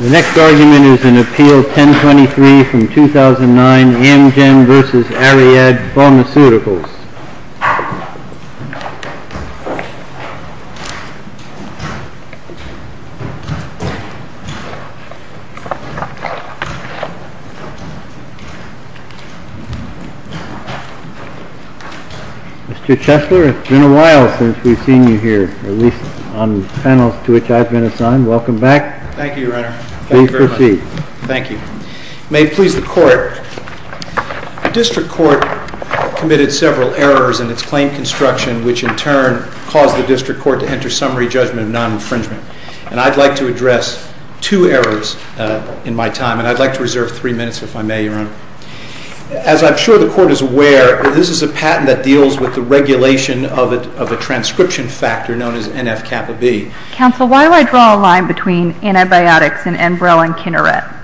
The next argument is in Appeal 1023 from 2009, Amgen v. Ariad Pharmaceuticals. Mr. Chesler, it's been a while since we've seen you here, at least on panels to which I've been assigned. Welcome back. Thank you, Your Honor. Please proceed. Thank you. May it please the Court, the District Court committed several errors in its claim construction, which in turn caused the District Court to enter summary judgment of non-infringement. And I'd like to address two errors in my time, and I'd like to reserve three minutes if I may, Your Honor. As I'm sure the Court is aware, this is a patent that deals with the regulation of a transcription factor known as NF-kappa-B. Counsel, why do I draw a line between antibiotics and Enbrel and Kineret?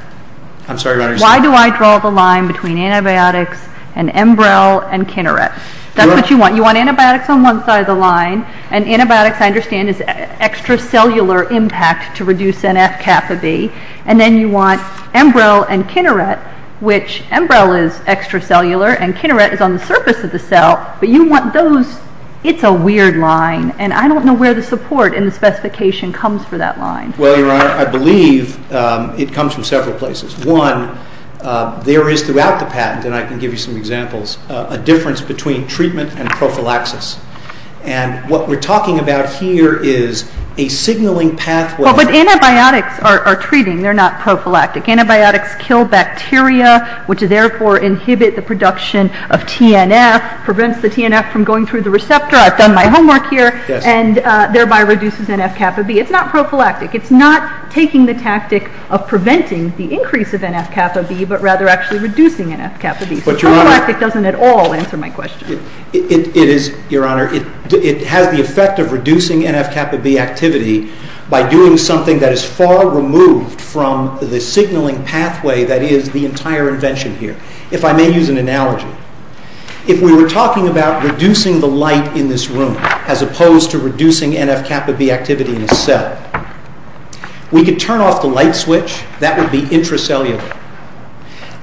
I'm sorry, Your Honor. Why do I draw the line between antibiotics and Enbrel and Kineret? That's what you want. You want antibiotics on one side of the line, and antibiotics, I understand, is extracellular impact to reduce NF-kappa-B. And then you want Enbrel and Kineret, which Enbrel is extracellular and Kineret is on the surface of the cell, but you want those. It's a weird line, and I don't know where the support in the specification comes for that line. Well, Your Honor, I believe it comes from several places. One, there is throughout the patent, and I can give you some examples, a difference between treatment and prophylaxis. And what we're talking about here is a signaling pathway. Well, but antibiotics are treating. They're not prophylactic. Antibiotics kill bacteria, which therefore inhibit the production of TNF, prevents the TNF from going through the receptor. I've done my homework here, and thereby reduces NF-kappa-B. It's not prophylactic. It's not taking the tactic of preventing the increase of NF-kappa-B, but rather actually reducing NF-kappa-B. So prophylactic doesn't at all answer my question. Your Honor, it has the effect of reducing NF-kappa-B activity by doing something that is far removed from the signaling pathway that is the entire invention here. If I may use an analogy. If we were talking about reducing the light in this room, as opposed to reducing NF-kappa-B activity in the cell, we could turn off the light switch. That would be intracellular.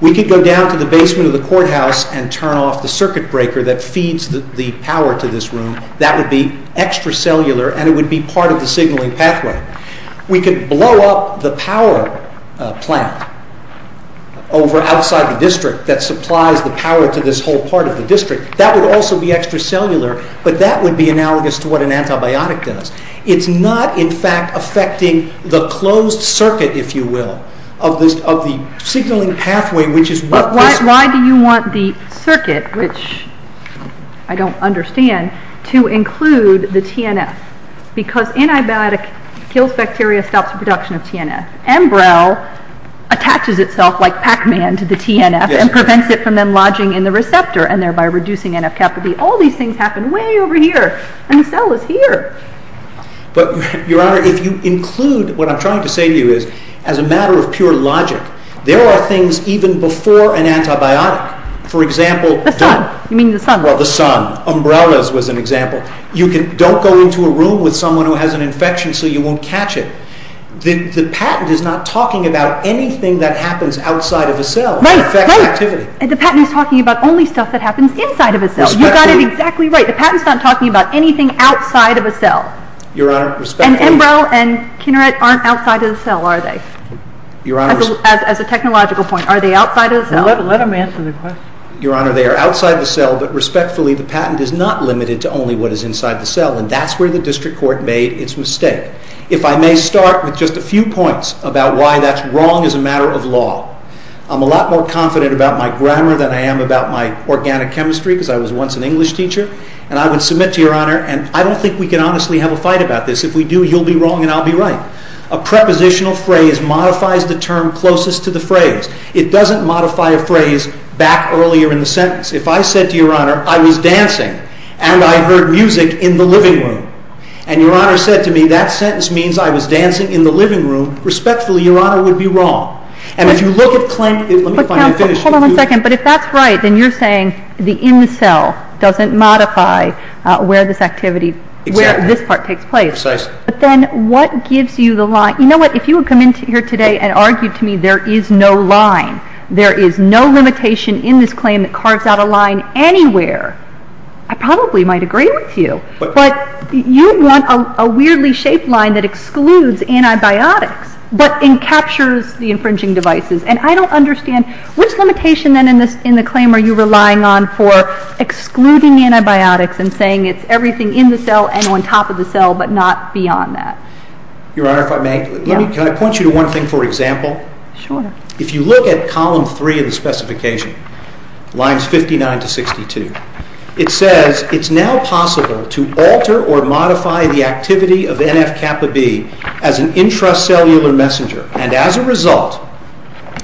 We could go down to the basement of the courthouse and turn off the circuit breaker that feeds the power to this room. That would be extracellular, and it would be part of the signaling pathway. We could blow up the power plant outside the district that supplies the power to this whole part of the district. That would also be extracellular, but that would be analogous to what an antibiotic does. It's not, in fact, affecting the closed circuit, if you will, of the signaling pathway. But why do you want the circuit, which I don't understand, to include the TNF? Because antibiotic kills bacteria, stops the production of TNF. Embryol attaches itself like Pac-Man to the TNF and prevents it from then lodging in the receptor and thereby reducing NF-kappa-B. All these things happen way over here, and the cell is here. Your Honor, if you include, what I'm trying to say to you is, as a matter of pure logic, there are things even before an antibiotic. For example... The sun. You mean the sun. Well, the sun. Umbrellas was an example. Don't go into a room with someone who has an infection so you won't catch it. The patent is not talking about anything that happens outside of a cell that affects activity. The patent is talking about only stuff that happens inside of a cell. Respectfully... You got it exactly right. The patent is not talking about anything outside of a cell. Your Honor, respectfully... And Embryol and Kineret aren't outside of the cell, are they? Your Honor... As a technological point, are they outside of the cell? Let him answer the question. Your Honor, they are outside the cell, but respectfully, the patent is not limited to only what is inside the cell, and that's where the district court made its mistake. If I may start with just a few points about why that's wrong as a matter of law. I'm a lot more confident about my grammar than I am about my organic chemistry, because I was once an English teacher, and I would submit to Your Honor, and I don't think we can honestly have a fight about this. If we do, you'll be wrong and I'll be right. A prepositional phrase modifies the term closest to the phrase. It doesn't modify a phrase back earlier in the sentence. If I said to Your Honor, I was dancing, and I heard music in the living room, and Your Honor said to me, that sentence means I was dancing in the living room, respectfully, Your Honor would be wrong. And if you look at claim – But counsel, hold on a second. But if that's right, then you're saying the in the cell doesn't modify where this activity – Exactly. Where this part takes place. Precisely. But then what gives you the line – you know what? If you had come in here today and argued to me there is no line, there is no limitation in this claim that carves out a line anywhere, I probably might agree with you. But you want a weirdly shaped line that excludes antibiotics, but encaptures the infringing devices. And I don't understand, which limitation then in the claim are you relying on for excluding antibiotics and saying it's everything in the cell and on top of the cell, but not beyond that? Your Honor, if I may, can I point you to one thing for example? Sure. If you look at column 3 of the specification, lines 59 to 62, it says it's now possible to alter or modify the activity of NF-kappa-B as an intracellular messenger. And as a result,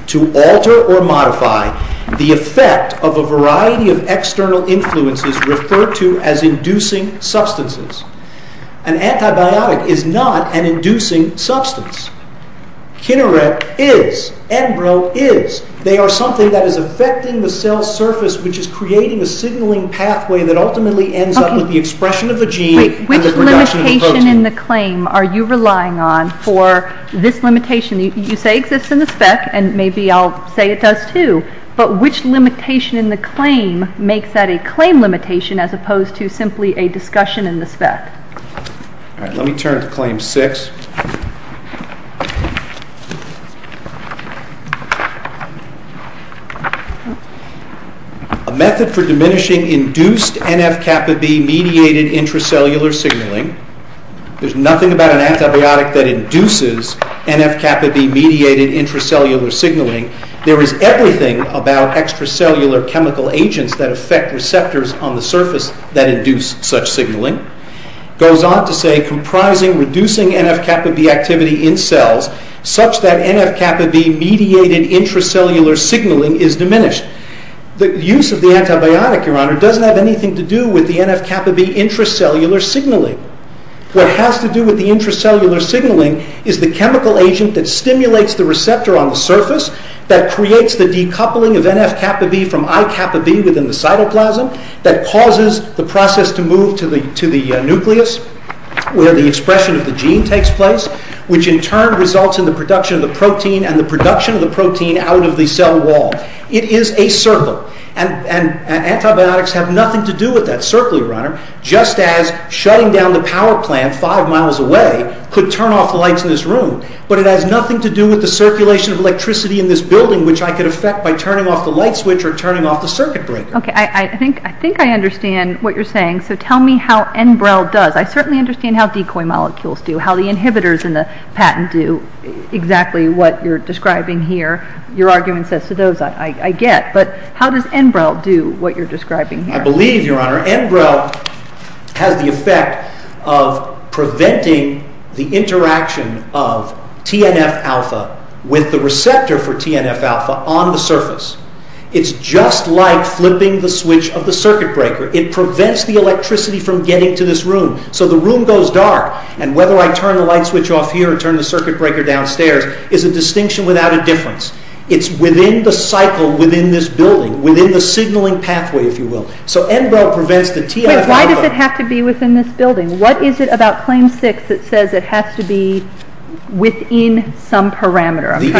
to alter or modify the effect of a variety of external influences referred to as inducing substances. An antibiotic is not an inducing substance. Kineret is. Enbro is. They are something that is affecting the cell's surface, which is creating a signaling pathway that ultimately ends up with the expression of the gene and the production of the protein. Which limitation in the claim are you relying on for this limitation? You say it exists in the spec, and maybe I'll say it does too, but which limitation in the claim makes that a claim limitation as opposed to simply a discussion in the spec? Let me turn to claim 6. A method for diminishing induced NF-kappa-B mediated intracellular signaling. There's nothing about an antibiotic that induces NF-kappa-B mediated intracellular signaling. There is everything about extracellular chemical agents that affect receptors on the surface that induce such signaling. It goes on to say comprising reducing NF-kappa-B activity in cells such that NF-kappa-B mediated intracellular signaling is diminished. The use of the antibiotic, Your Honor, doesn't have anything to do with the NF-kappa-B intracellular signaling. What has to do with the intracellular signaling is the chemical agent that stimulates the receptor on the surface that creates the decoupling of NF-kappa-B from I-kappa-B within the cytoplasm that causes the process to move to the nucleus where the expression of the gene takes place, which in turn results in the production of the protein and the production of the protein out of the cell wall. It is a circle, and antibiotics have nothing to do with that circle, Your Honor, just as shutting down the power plant five miles away could turn off the lights in this room, but it has nothing to do with the circulation of electricity in this building, which I could affect by turning off the light switch or turning off the circuit breaker. Okay, I think I understand what you're saying, so tell me how Enbrel does. I certainly understand how decoy molecules do, how the inhibitors in the patent do, exactly what you're describing here. Your argument says to those I get, but how does Enbrel do what you're describing here? I believe, Your Honor, Enbrel has the effect of preventing the interaction of TNF-alpha with the receptor for TNF-alpha on the surface. It's just like flipping the switch of the circuit breaker. It prevents the electricity from getting to this room, so the room goes dark, and whether I turn the light switch off here or turn the circuit breaker downstairs is a distinction without a difference. It's within the cycle within this building, within the signaling pathway, if you will. So Enbrel prevents the TNF-alpha. Wait, why does it have to be within this building? What is it about claim six that says it has to be within some parameter? The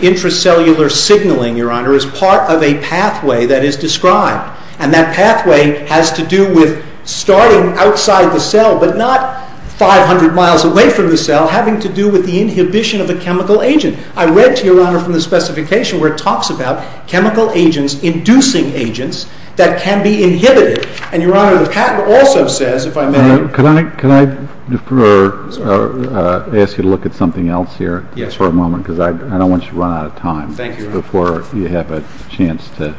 intracellular signaling, Your Honor, is part of a pathway that is described, and that pathway has to do with starting outside the cell, but not 500 miles away from the cell, having to do with the inhibition of a chemical agent. I read, Your Honor, from the specification where it talks about chemical agents inducing agents that can be inhibited. And, Your Honor, the patent also says, if I may. Can I ask you to look at something else here for a moment, because I don't want you to run out of time before you have a chance to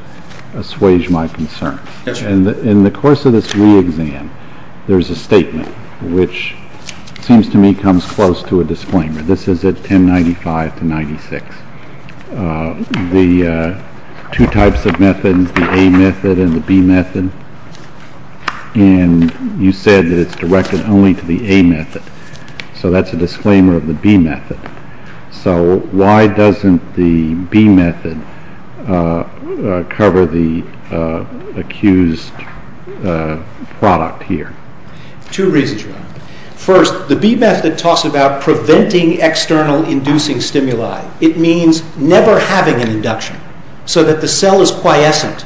assuage my concern. In the course of this re-exam, there's a statement which seems to me comes close to a disclaimer. This is at 1095 to 1096. The two types of methods, the A method and the B method, and you said that it's directed only to the A method. So that's a disclaimer of the B method. So why doesn't the B method cover the accused product here? Two reasons, Your Honor. First, the B method talks about preventing external inducing stimuli. It means never having an induction, so that the cell is quiescent,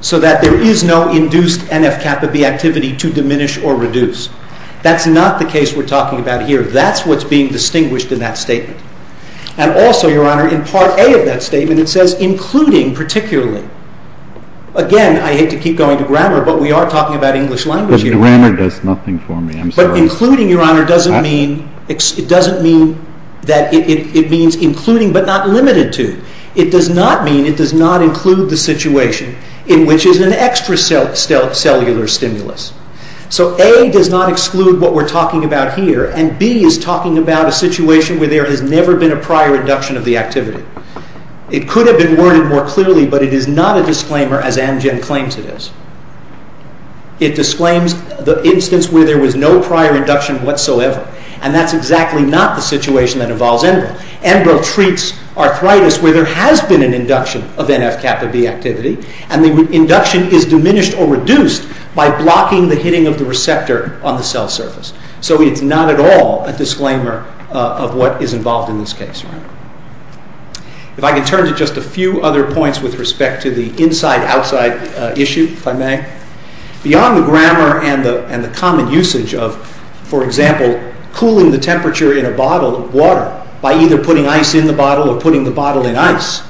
so that there is no induced NF-kappa B activity to diminish or reduce. That's not the case we're talking about here. That's what's being distinguished in that statement. And also, Your Honor, in Part A of that statement, it says including particularly. Again, I hate to keep going to grammar, but we are talking about English language here. The grammar does nothing for me. I'm sorry. But including, Your Honor, doesn't mean that it means including but not limited to. It does not mean it does not include the situation in which is an extracellular stimulus. So A does not exclude what we're talking about here, and B is talking about a situation where there has never been a prior induction of the activity. It could have been worded more clearly, but it is not a disclaimer as Amgen claims it is. It disclaims the instance where there was no prior induction whatsoever, and that's exactly not the situation that involves Enbrel. Enbrel treats arthritis where there has been an induction of NF-kappa B activity, and the induction is diminished or reduced by blocking the hitting of the receptor on the cell surface. So it's not at all a disclaimer of what is involved in this case. If I could turn to just a few other points with respect to the inside-outside issue, if I may. Beyond the grammar and the common usage of, for example, cooling the temperature in a bottle of water by either putting ice in the bottle or putting the bottle in ice,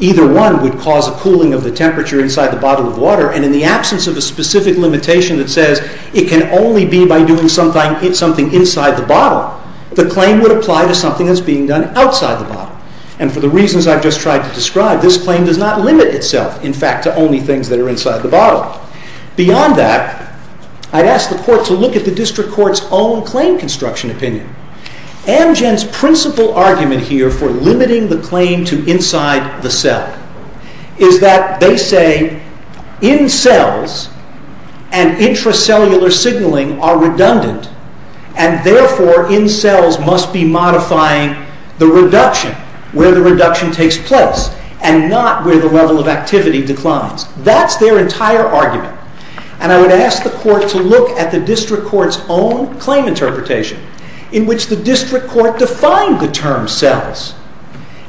either one would cause a cooling of the temperature inside the bottle of water, and in the absence of a specific limitation that says it can only be by doing something inside the bottle, the claim would apply to something that's being done outside the bottle. And for the reasons I've just tried to describe, this claim does not limit itself, in fact, to only things that are inside the bottle. Beyond that, I'd ask the Court to look at the District Court's own claim construction opinion. Amgen's principal argument here for limiting the claim to inside the cell is that they say in-cells and intracellular signaling are redundant, and therefore in-cells must be modifying the reduction, where the reduction takes place, and not where the level of activity declines. That's their entire argument. And I would ask the Court to look at the District Court's own claim interpretation, in which the District Court defined the term cells,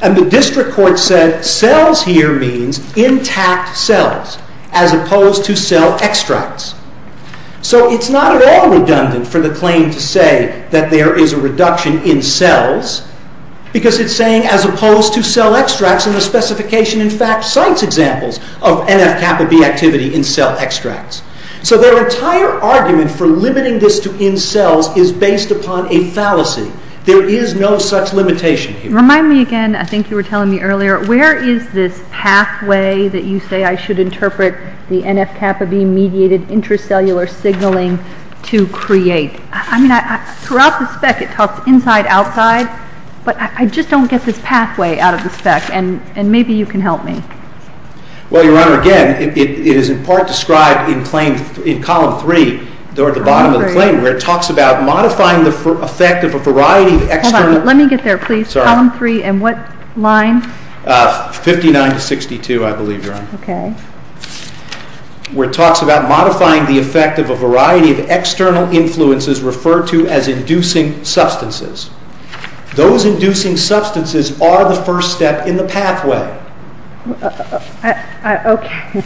and the District Court said cells here means intact cells, as opposed to cell extracts. So it's not at all redundant for the claim to say that there is a reduction in cells, because it's saying as opposed to cell extracts, and the specification, in fact, cites examples of NF-kappa-B activity in cell extracts. So their entire argument for limiting this to in-cells is based upon a fallacy. There is no such limitation here. Remind me again, I think you were telling me earlier, where is this pathway that you say I should interpret the NF-kappa-B mediated intracellular signaling to create? I mean, throughout the spec it talks inside-outside, but I just don't get this pathway out of the spec, and maybe you can help me. Well, Your Honor, again, it is in part described in claim, in column 3, or at the bottom of the claim, where it talks about modifying the effect of a variety of external... Hold on, let me get there, please. Sorry. Column 3, in what line? 59 to 62, I believe, Your Honor. Okay. Where it talks about modifying the effect of a variety of external influences referred to as inducing substances. Those inducing substances are the first step in the pathway. Okay.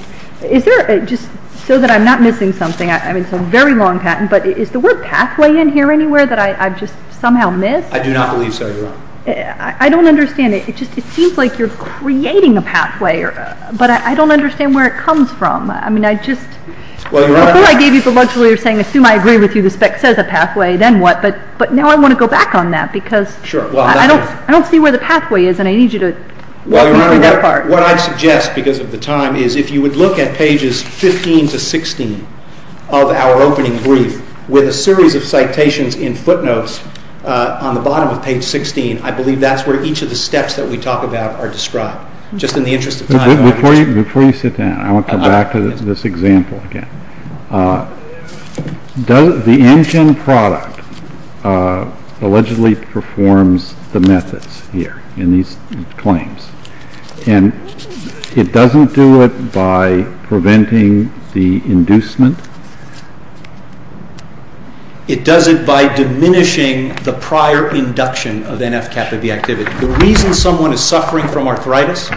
Is there, just so that I'm not missing something, I mean, it's a very long patent, but is the word pathway in here anywhere that I've just somehow missed? I do not believe so, Your Honor. I don't understand it. It just seems like you're creating a pathway, but I don't understand where it comes from. I mean, I just... Well, Your Honor... Before I gave you the luxury of saying, assume I agree with you, the spec says a pathway, then what? But now I want to go back on that because... Sure. I don't see where the pathway is, and I need you to... Well, Your Honor, what I suggest because of the time is if you would look at pages 15 to 16 of our opening brief with a series of citations in footnotes on the bottom of page 16, I believe that's where each of the steps that we talk about are described, just in the interest of time. Before you sit down, I want to come back to this example again. The antigen product allegedly performs the methods here in these claims, and it doesn't do it by preventing the inducement? It does it by diminishing the prior induction of NF-kappa-B activity. The reason someone is suffering from arthritis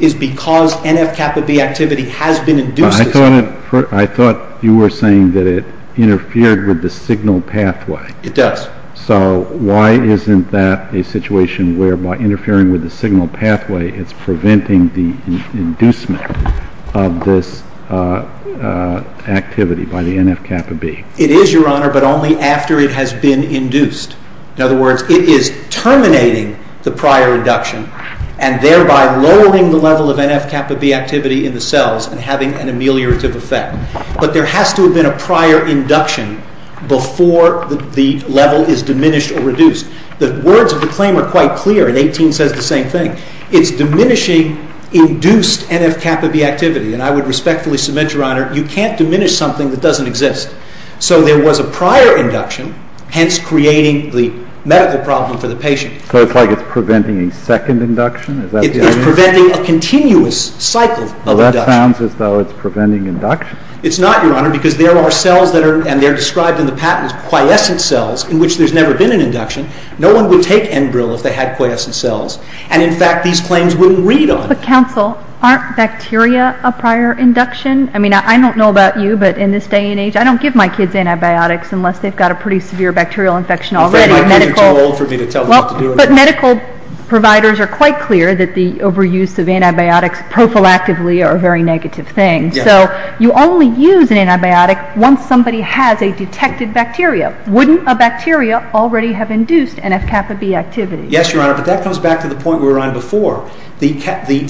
is because NF-kappa-B activity has been induced. I thought you were saying that it interfered with the signal pathway. It does. So why isn't that a situation whereby interfering with the signal pathway is preventing the inducement of this activity by the NF-kappa-B? It is, Your Honor, but only after it has been induced. In other words, it is terminating the prior induction, and thereby lowering the level of NF-kappa-B activity in the cells and having an ameliorative effect. But there has to have been a prior induction before the level is diminished or reduced. The words of the claim are quite clear, and 18 says the same thing. It's diminishing induced NF-kappa-B activity, and I would respectfully submit, Your Honor, you can't diminish something that doesn't exist. So there was a prior induction, hence creating the medical problem for the patient. So it's like it's preventing a second induction? It's preventing a continuous cycle of induction. Well, that sounds as though it's preventing induction. It's not, Your Honor, because there are cells that are, and they're described in the patent as quiescent cells, in which there's never been an induction. No one would take Enbril if they had quiescent cells, and in fact these claims wouldn't read on it. But counsel, aren't bacteria a prior induction? I mean, I don't know about you, but in this day and age, I don't give my kids antibiotics unless they've got a pretty severe bacterial infection already. My kids are too old for me to tell them what to do. But medical providers are quite clear that the overuse of antibiotics prophylactically are a very negative thing. So you only use an antibiotic once somebody has a detected bacteria. Wouldn't a bacteria already have induced NF-kappa-B activity? Yes, Your Honor, but that comes back to the point we were on before. The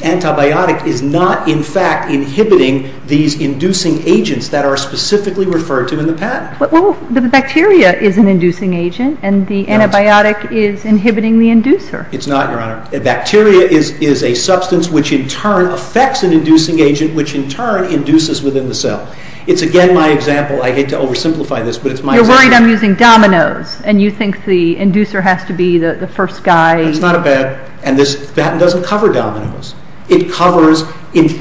antibiotic is not, in fact, inhibiting these inducing agents that are specifically referred to in the patent. Well, the bacteria is an inducing agent, and the antibiotic is inhibiting the inducer. It's not, Your Honor. A bacteria is a substance which in turn affects an inducing agent, which in turn induces within the cell. It's again my example. I hate to oversimplify this, but it's my example. You're worried I'm using dominoes, and you think the inducer has to be the first guy. That's not a bad, and this patent doesn't cover dominoes. It covers,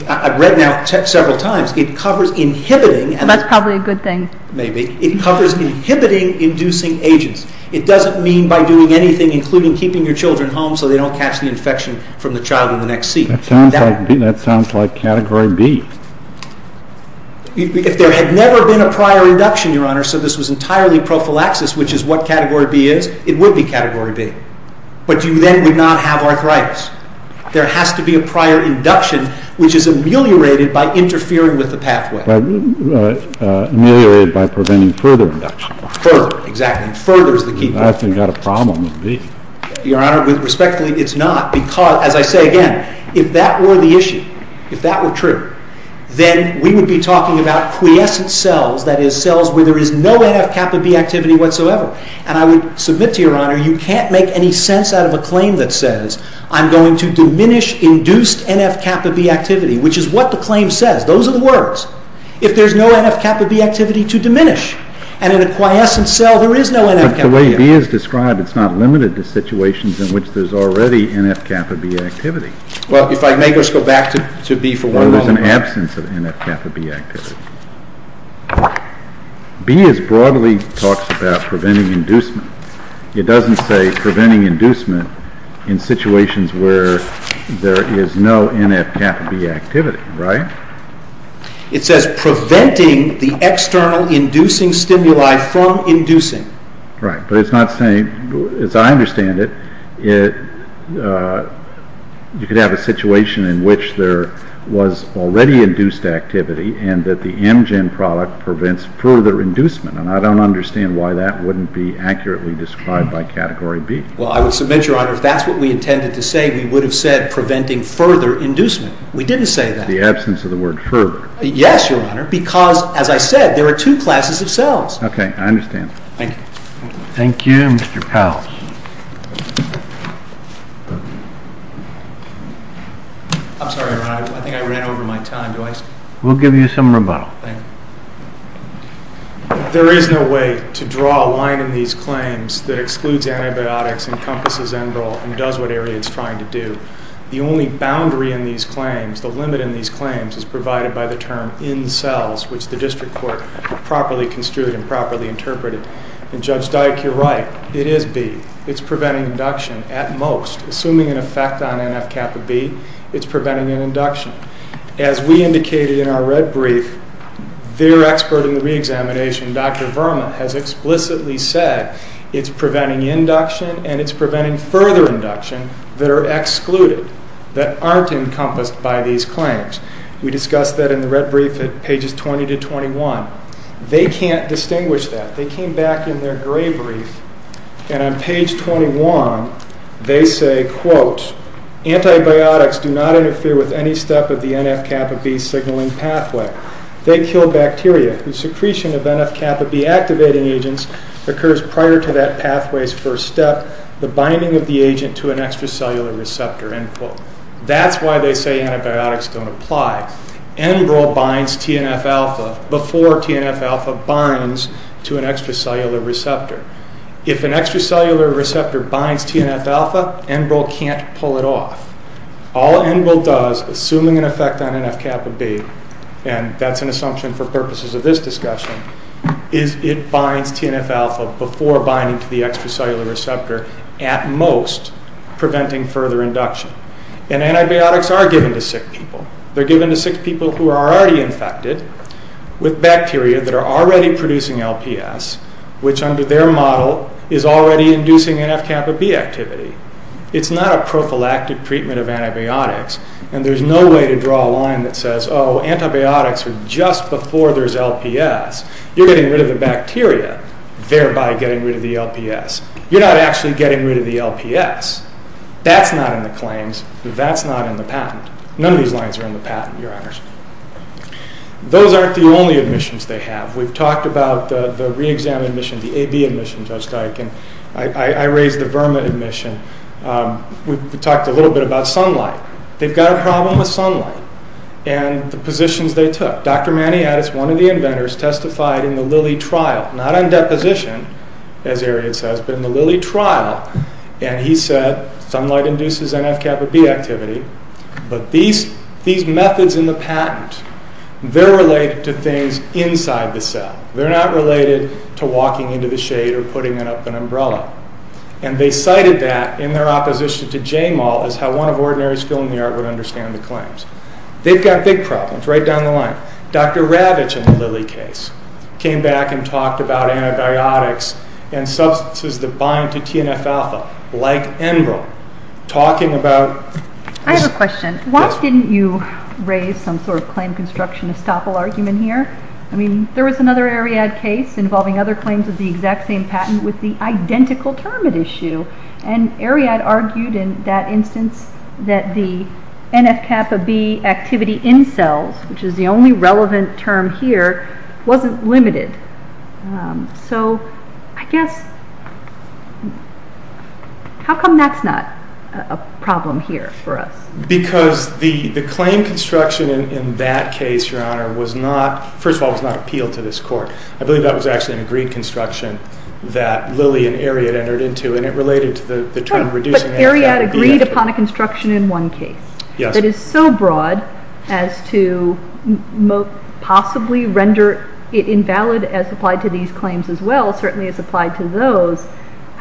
I've read now several times, it covers inhibiting. That's probably a good thing. Maybe. It covers inhibiting inducing agents. It doesn't mean by doing anything, including keeping your children home so they don't catch the infection from the child in the next seat. That sounds like Category B. If there had never been a prior induction, Your Honor, so this was entirely prophylaxis, which is what Category B is, it would be Category B. But you then would not have arthritis. There has to be a prior induction, which is ameliorated by interfering with the pathway. Ameliorated by preventing further induction. Further. Exactly. Further is the key point. That's got a problem with B. Your Honor, respectfully, it's not. Because, as I say again, if that were the issue, if that were true, then we would be talking about quiescent cells, that is, cells where there is no NF-kappa B activity whatsoever. And I would submit to Your Honor, you can't make any sense out of a claim that says, I'm going to diminish induced NF-kappa B activity, which is what the claim says. Those are the words. If there is no NF-kappa B activity to diminish. And in a quiescent cell, there is no NF-kappa B activity. But the way B is described, it's not limited to situations in which there is already NF-kappa B activity. Well, if I may just go back to B for one moment. Where there is an absence of NF-kappa B activity. B broadly talks about preventing inducement. It doesn't say preventing inducement in situations where there is no NF-kappa B activity, right? It says preventing the external inducing stimuli from inducing. Right. But it's not saying, as I understand it, you could have a situation in which there was already induced activity and that the Amgen product prevents further inducement. And I don't understand why that wouldn't be accurately described by Category B. Well, I would submit, Your Honor, if that's what we intended to say, we would have said preventing further inducement. We didn't say that. The absence of the word further. Yes, Your Honor. Because, as I said, there are two classes of cells. Okay. I understand. Thank you. Thank you, Mr. Powell. I'm sorry, Your Honor. I think I ran over my time. We'll give you some rebuttal. Thank you. There is no way to draw a line in these claims that excludes antibiotics, encompasses Enbrel, and does what Ariane is trying to do. The only boundary in these claims, the limit in these claims, is provided by the term in cells, which the district court properly construed and properly interpreted. And Judge Dike, you're right. It is B. It's preventing induction at most. Assuming an effect on NF-kappa B, it's preventing an induction. As we indicated in our red brief, their expert in the reexamination, Dr. Verma, has explicitly said it's preventing induction and it's preventing further induction that are excluded, that aren't encompassed by these claims. We discussed that in the red brief at pages 20 to 21. They can't distinguish that. They came back in their gray brief, and on page 21, they say, quote, antibiotics do not interfere with any step of the NF-kappa B signaling pathway. They kill bacteria. The secretion of NF-kappa B activating agents occurs prior to that pathway's first step, the binding of the agent to an extracellular receptor, end quote. That's why they say antibiotics don't apply. Enbrel binds TNF-alpha before TNF-alpha binds to an extracellular receptor. If an extracellular receptor binds TNF-alpha, Enbrel can't pull it off. All Enbrel does, assuming an effect on NF-kappa B, and that's an assumption for purposes of this discussion, is it binds TNF-alpha before binding to the extracellular receptor, at most, preventing further induction. And antibiotics are given to sick people. They're given to sick people who are already infected with bacteria that are already producing LPS, which under their model is already inducing NF-kappa B activity. It's not a prophylactic treatment of antibiotics, and there's no way to draw a line that says, oh, antibiotics are just before there's LPS. You're getting rid of the bacteria, thereby getting rid of the LPS. You're not actually getting rid of the LPS. That's not in the claims. That's not in the patent. None of these lines are in the patent, Your Honors. Those aren't the only admissions they have. We've talked about the re-exam admission, the AB admission, Judge Dike, and I raised the VIRMA admission. We talked a little bit about sunlight. They've got a problem with sunlight and the positions they took. Dr. Maniatis, one of the inventors, testified in the Lilly trial, not on deposition, as Ariadne says, but in the Lilly trial, and he said, well, sunlight induces NF-kappa B activity, but these methods in the patent, they're related to things inside the cell. They're not related to walking into the shade or putting up an umbrella. And they cited that in their opposition to JMAL as how one of ordinary skill in the art would understand the claims. They've got big problems right down the line. Dr. Ravitch in the Lilly case came back and talked about antibiotics and substances that bind to TNF-alpha, like Enbrel, talking about- I have a question. Why didn't you raise some sort of claim construction estoppel argument here? I mean, there was another Ariadne case involving other claims of the exact same patent with the identical term at issue, and Ariadne argued in that instance that the NF-kappa B activity in cells, which is the only relevant term here, wasn't limited. So, I guess, how come that's not a problem here for us? Because the claim construction in that case, Your Honor, was not, first of all, was not appealed to this court. I believe that was actually an agreed construction that Lilly and Ariadne entered into, and it related to the term reducing- But Ariadne agreed upon a construction in one case that is so broad as to possibly render it invalid as applied to these claims as well, certainly as applied to those.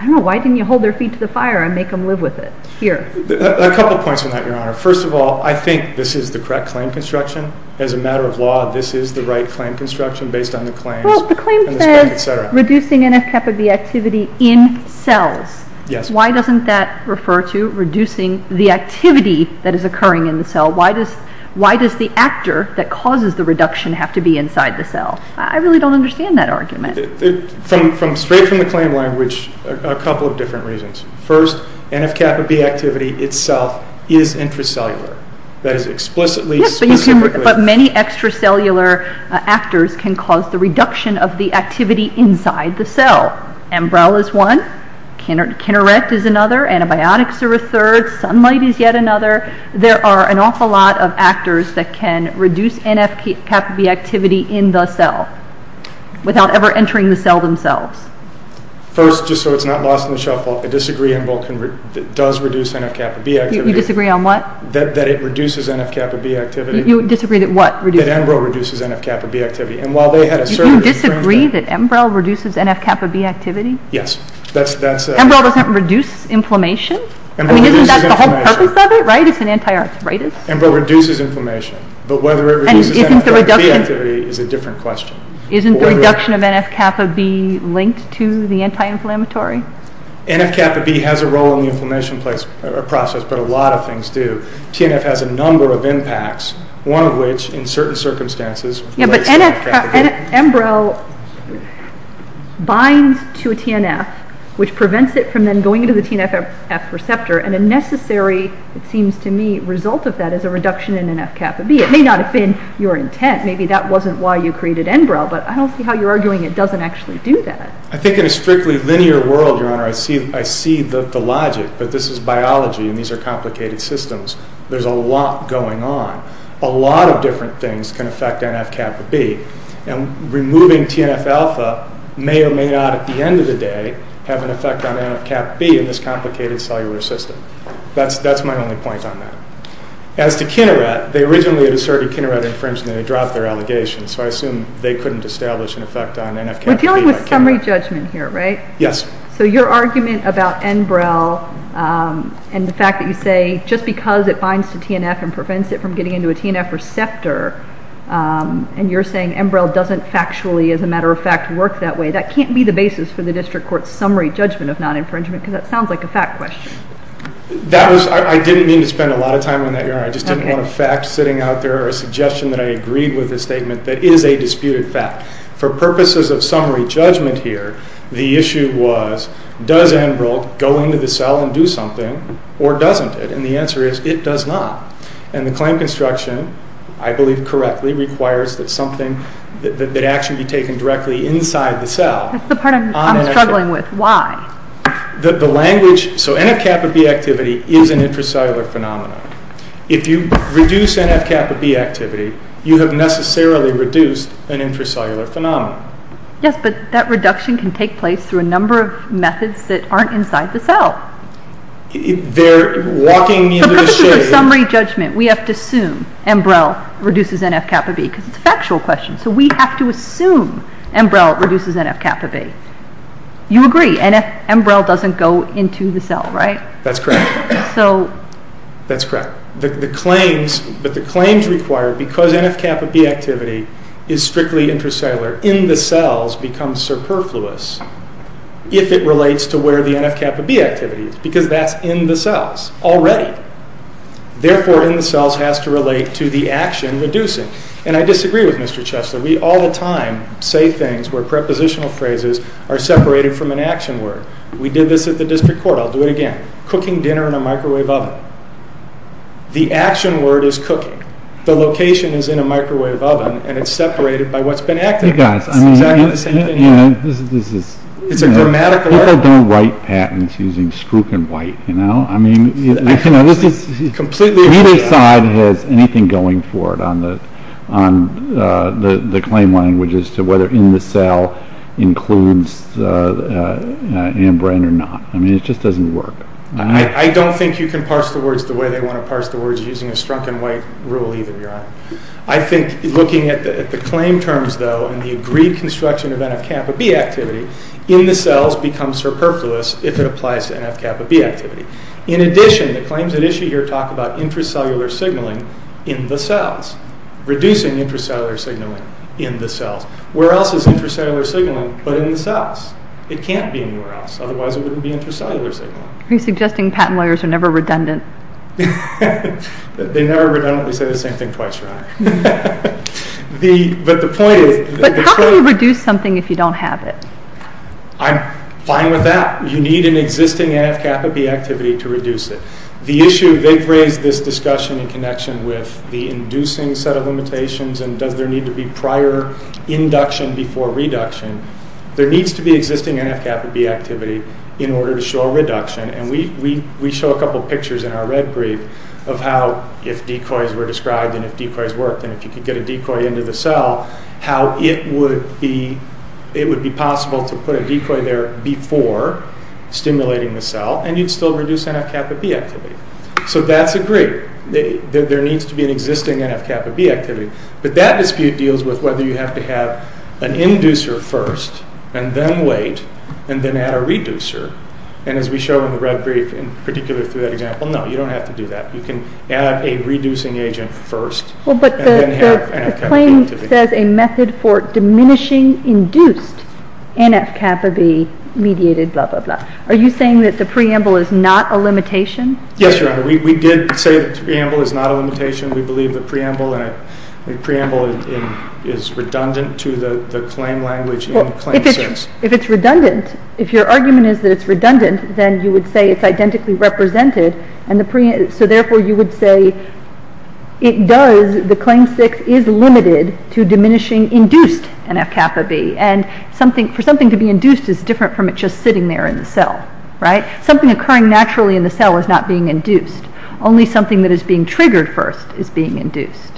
I don't know. Why didn't you hold their feet to the fire and make them live with it here? A couple points on that, Your Honor. First of all, I think this is the correct claim construction. As a matter of law, this is the right claim construction based on the claims. Well, the claim says reducing NF-kappa B activity in cells. Yes. Why doesn't that refer to reducing the activity that is occurring in the cell? Why does the actor that causes the reduction have to be inside the cell? I really don't understand that argument. Straight from the claim language, a couple of different reasons. First, NF-kappa B activity itself is intracellular. That is explicitly- Yes, but many extracellular actors can cause the reduction of the activity inside the cell. Embrel is one. Kinerect is another. Antibiotics are a third. Sunlight is yet another. There are an awful lot of actors that can reduce NF-kappa B activity in the cell without ever entering the cell themselves. First, just so it's not lost in the shuffle, I disagree on what does reduce NF-kappa B activity. You disagree on what? That it reduces NF-kappa B activity. You disagree that what reduces it? That Embrel reduces NF-kappa B activity. Do you disagree that Embrel reduces NF-kappa B activity? Yes. Embrel doesn't reduce inflammation? Embrel reduces inflammation. Isn't that the whole purpose of it? It's an anti-arthritis. Embrel reduces inflammation, but whether it reduces NF-kappa B activity is a different question. Isn't the reduction of NF-kappa B linked to the anti-inflammatory? NF-kappa B has a role in the inflammation process, but a lot of things do. TNF has a number of impacts, one of which, in certain circumstances, relates to NF-kappa B. Embrel binds to a TNF, which prevents it from then going into the TNFF receptor, and a necessary, it seems to me, result of that is a reduction in NF-kappa B. It may not have been your intent. Maybe that wasn't why you created Embrel, but I don't see how you're arguing it doesn't actually do that. I think in a strictly linear world, Your Honor, I see the logic, but this is biology, and these are complicated systems. There's a lot going on. A lot of different things can affect NF-kappa B, and removing TNF-alpha may or may not, at the end of the day, have an effect on NF-kappa B in this complicated cellular system. That's my only point on that. As to Kineret, they originally had asserted Kineret infringement, and they dropped their allegation, so I assume they couldn't establish an effect on NF-kappa B. We're dealing with summary judgment here, right? Yes. So your argument about Embrel and the fact that you say, just because it binds to TNF and prevents it from getting into a TNF receptor, and you're saying Embrel doesn't factually, as a matter of fact, work that way, that can't be the basis for the district court's summary judgment of non-infringement, because that sounds like a fact question. I didn't mean to spend a lot of time on that, Your Honor. I just didn't want a fact sitting out there or a suggestion that I agreed with a statement that is a disputed fact. For purposes of summary judgment here, the issue was, does Embrel go into the cell and do something, or doesn't it? And the answer is, it does not. And the claim construction, I believe correctly, requires that something that actually be taken directly inside the cell. That's the part I'm struggling with. Why? So NF-kappa B activity is an intracellular phenomenon. If you reduce NF-kappa B activity, you have necessarily reduced an intracellular phenomenon. Yes, but that reduction can take place through a number of methods that aren't inside the cell. They're walking me into the shade. For purposes of summary judgment, we have to assume Embrel reduces NF-kappa B, because it's a factual question. So we have to assume Embrel reduces NF-kappa B. You agree, Embrel doesn't go into the cell, right? That's correct. That's correct. But the claims require, because NF-kappa B activity is strictly intracellular, in the cells becomes superfluous if it relates to where the NF-kappa B activity is, because that's in the cells already. Therefore, in the cells has to relate to the action reducing. And I disagree with Mr. Chesler. We all the time say things where prepositional phrases are separated from an action word. We did this at the district court. I'll do it again. Cooking dinner in a microwave oven. The action word is cooking. The location is in a microwave oven, and it's separated by what's been acted on. It's exactly the same thing here. It's a grammatical error. People don't write patents using spruik and white, you know? I mean, neither side has anything going for it on the claim language as to whether in the cell includes ambrane or not. I mean, it just doesn't work. I don't think you can parse the words the way they want to parse the words using a spruik and white rule either, Your Honor. I think looking at the claim terms, though, and the agreed construction of NF-kappa B activity, in the cells becomes superfluous if it applies to NF-kappa B activity. In addition, the claims at issue here talk about intracellular signaling in the cells, reducing intracellular signaling in the cells. Where else is intracellular signaling but in the cells? It can't be anywhere else. Otherwise, it wouldn't be intracellular signaling. Are you suggesting patent lawyers are never redundant? They never redundantly say the same thing twice, Your Honor. But how can you reduce something if you don't have it? I'm fine with that. You need an existing NF-kappa B activity to reduce it. The issue, they've raised this discussion in connection with the inducing set of limitations and does there need to be prior induction before reduction. There needs to be existing NF-kappa B activity in order to show a reduction, and we show a couple pictures in our red brief of how if decoys were described and if decoys worked and if you could get a decoy into the cell, how it would be possible to put a decoy there before stimulating the cell and you'd still reduce NF-kappa B activity. So that's agreed. There needs to be an existing NF-kappa B activity. But that dispute deals with whether you have to have an inducer first and then wait and then add a reducer. And as we show in the red brief, in particular through that example, no, you don't have to do that. You can add a reducing agent first and then have NF-kappa B activity. But the claim says a method for diminishing induced NF-kappa B mediated blah, blah, blah. Are you saying that the preamble is not a limitation? Yes, Your Honor. We did say the preamble is not a limitation. We believe the preamble is redundant to the claim language in Claim 6. Well, if it's redundant, if your argument is that it's redundant, then you would say it's identically represented, so therefore you would say it does, the Claim 6 is limited to diminishing induced NF-kappa B. And for something to be induced is different from it just sitting there in the cell, right? Something occurring naturally in the cell is not being induced. Only something that is being triggered first is being induced.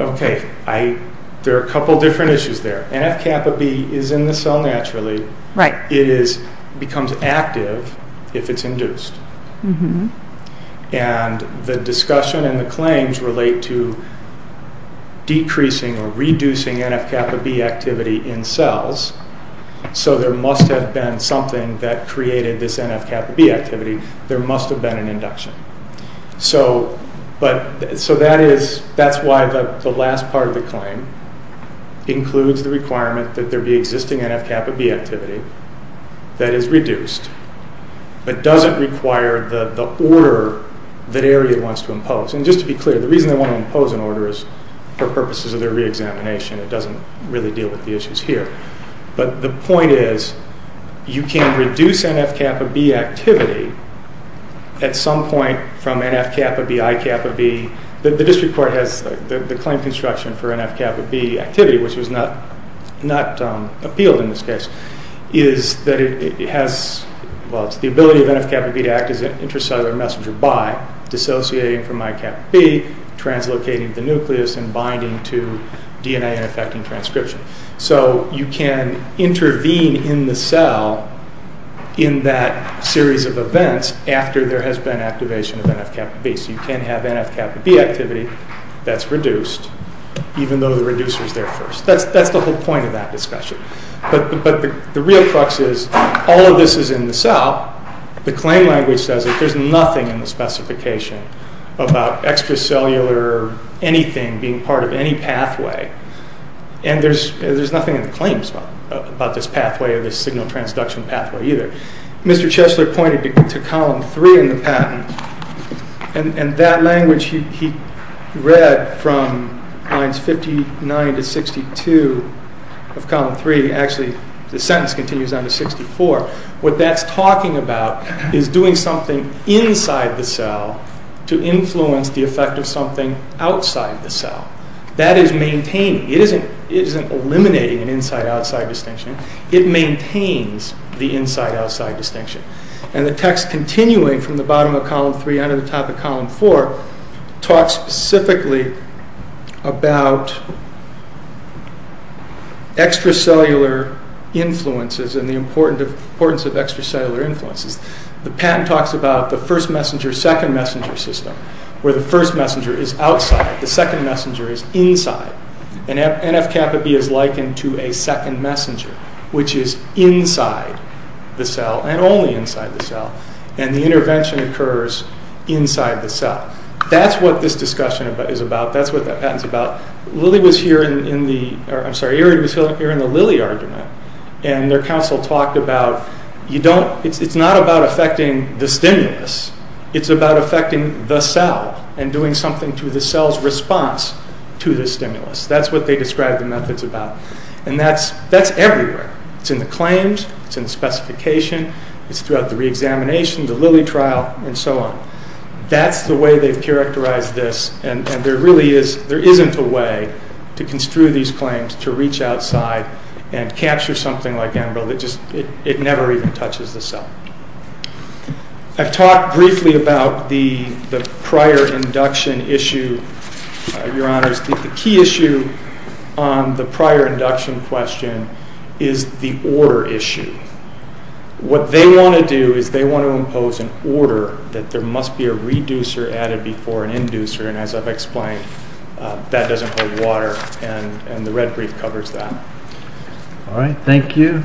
Okay. There are a couple of different issues there. NF-kappa B is in the cell naturally. It becomes active if it's induced. And the discussion and the claims relate to decreasing or reducing NF-kappa B activity in cells. So there must have been something that created this NF-kappa B activity. There must have been an induction. So that's why the last part of the claim includes the requirement that there be existing NF-kappa B activity that is reduced, but doesn't require the order that AREA wants to impose. And just to be clear, the reason they want to impose an order is for purposes of their reexamination. It doesn't really deal with the issues here. But the point is you can reduce NF-kappa B activity at some point from NF-kappa B, I-kappa B. The District Court has the claim construction for NF-kappa B activity, which was not appealed in this case, is that it has the ability of NF-kappa B to act as an intracellular messenger by dissociating from I-kappa B, translocating the nucleus, and binding to DNA and affecting transcription. So you can intervene in the cell in that series of events after there has been activation of NF-kappa B. So you can have NF-kappa B activity that's reduced, even though the reducer is there first. That's the whole point of that discussion. But the real crux is all of this is in the cell. The claim language says that there's nothing in the specification about extracellular anything being part of any pathway. And there's nothing in the claims about this pathway or this signal transduction pathway either. Mr. Chesler pointed to Column 3 in the patent, and that language he read from lines 59 to 62 of Column 3. Actually, the sentence continues on to 64. What that's talking about is doing something inside the cell to influence the effect of something outside the cell. That is maintaining. It isn't eliminating an inside-outside distinction. It maintains the inside-outside distinction. And the text continuing from the bottom of Column 3 under the top of Column 4 talks specifically about extracellular influences and the importance of extracellular influences. The patent talks about the first messenger-second messenger system, where the first messenger is outside, the second messenger is inside. And NF-kappa-B is likened to a second messenger, which is inside the cell and only inside the cell. And the intervention occurs inside the cell. That's what this discussion is about. That's what that patent's about. Lily was here in the—I'm sorry, Erin was here in the Lily argument. And their counsel talked about you don't—it's not about affecting the stimulus. It's about affecting the cell and doing something to the cell's response to the stimulus. That's what they described the methods about. And that's everywhere. It's in the claims. It's in the specification. It's throughout the reexamination, the Lily trial, and so on. That's the way they've characterized this, and there really is— there isn't a way to construe these claims to reach outside and capture something like Enbrel that just— it never even touches the cell. I've talked briefly about the prior induction issue, Your Honors. The key issue on the prior induction question is the order issue. What they want to do is they want to impose an order that there must be a reducer added before an inducer. And as I've explained, that doesn't hold water, and the red brief covers that. All right. Thank you.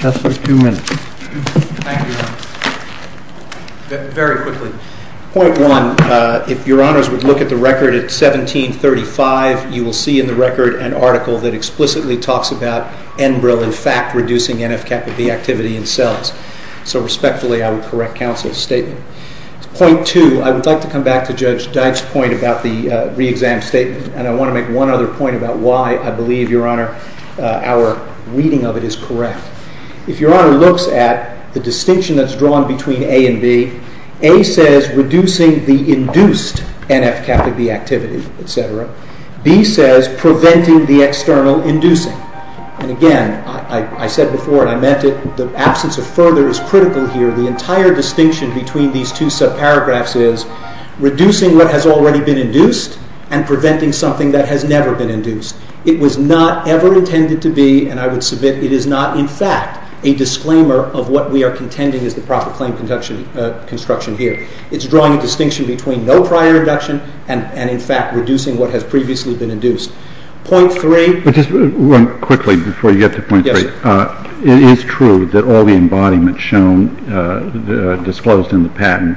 That's for two minutes. Thank you, Your Honors. Very quickly, point one, if Your Honors would look at the record at 1735, you will see in the record an article that explicitly talks about Enbrel, in fact, reducing NF-kappa B activity in cells. So respectfully, I would correct counsel's statement. Point two, I would like to come back to Judge Dyke's point about the reexam statement, and I want to make one other point about why I believe, Your Honor, our reading of it is correct. If Your Honor looks at the distinction that's drawn between A and B, A says reducing the induced NF-kappa B activity, etc. B says preventing the external inducing. And again, I said before and I meant it, the absence of further is critical here. The entire distinction between these two subparagraphs is reducing what has already been induced and preventing something that has never been induced. It was not ever intended to be, and I would submit it is not, in fact, a disclaimer of what we are contending is the proper claim construction here. It's drawing a distinction between no prior induction and, in fact, reducing what has previously been induced. Point three. Yes, sir. It is true that all the embodiments shown, disclosed in the patent,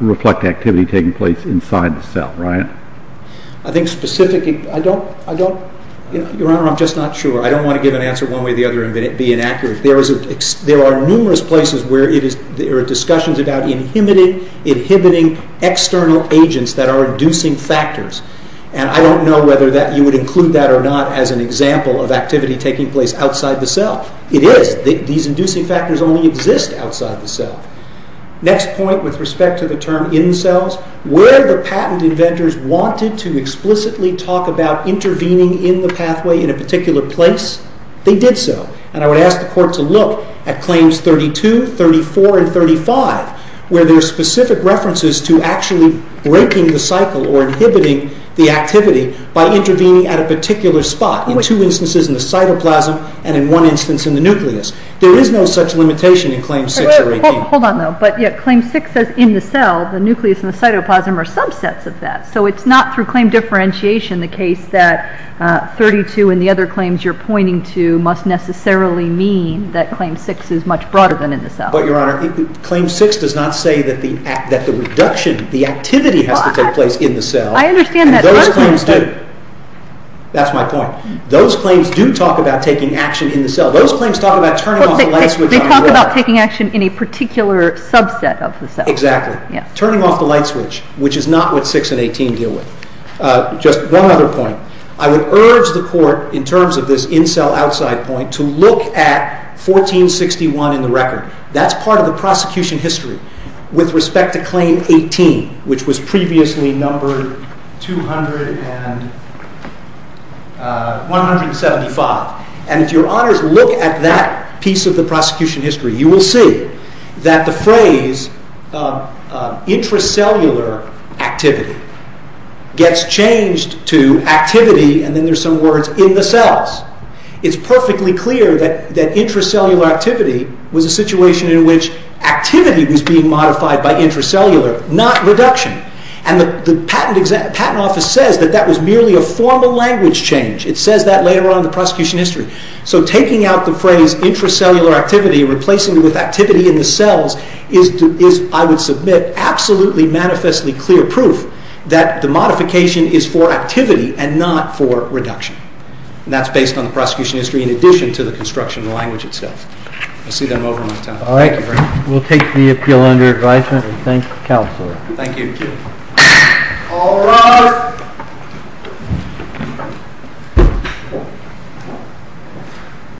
reflect activity taking place inside the cell, right? I think specifically, I don't, Your Honor, I'm just not sure. I don't want to give an answer one way or the other and be inaccurate. There are numerous places where there are discussions about inhibiting external agents that are inducing factors, and I don't know whether you would include that or not as an example of activity taking place outside the cell. It is. These inducing factors only exist outside the cell. Next point with respect to the term in cells. Where the patent inventors wanted to explicitly talk about intervening in the pathway in a particular place, they did so. And I would ask the Court to look at claims 32, 34, and 35, where there are specific references to actually breaking the cycle or inhibiting the activity by intervening at a particular spot, in two instances in the cytoplasm and in one instance in the nucleus. There is no such limitation in claims 6 or 18. Hold on, though. But claim 6 says in the cell, the nucleus and the cytoplasm are subsets of that. So it's not through claim differentiation the case that 32 and the other claims you're pointing to must necessarily mean that claim 6 is much broader than in the cell. But, Your Honor, claim 6 does not say that the reduction, the activity has to take place in the cell. I understand that. And those claims do. That's my point. Those claims do talk about taking action in the cell. Those claims talk about turning off the light switch. They talk about taking action in a particular subset of the cell. Exactly. Turning off the light switch, which is not what 6 and 18 deal with. Just one other point. I would urge the court, in terms of this in-cell, outside point, to look at 1461 in the record. That's part of the prosecution history with respect to claim 18, which was previously numbered 175. And if Your Honors look at that piece of the prosecution history, you will see that the phrase intracellular activity gets changed to activity, and then there's some words, in the cells. It's perfectly clear that intracellular activity was a situation in which activity was being modified by intracellular, not reduction. And the patent office says that that was merely a formal language change. It says that later on in the prosecution history. So taking out the phrase intracellular activity and replacing it with activity in the cells is, I would submit, absolutely manifestly clear proof that the modification is for activity and not for reduction. And that's based on the prosecution history in addition to the construction of the language itself. I see that I'm over my time. All right. We'll take the appeal under advisement and thank the counselor. Thank you. All rise. Thank you.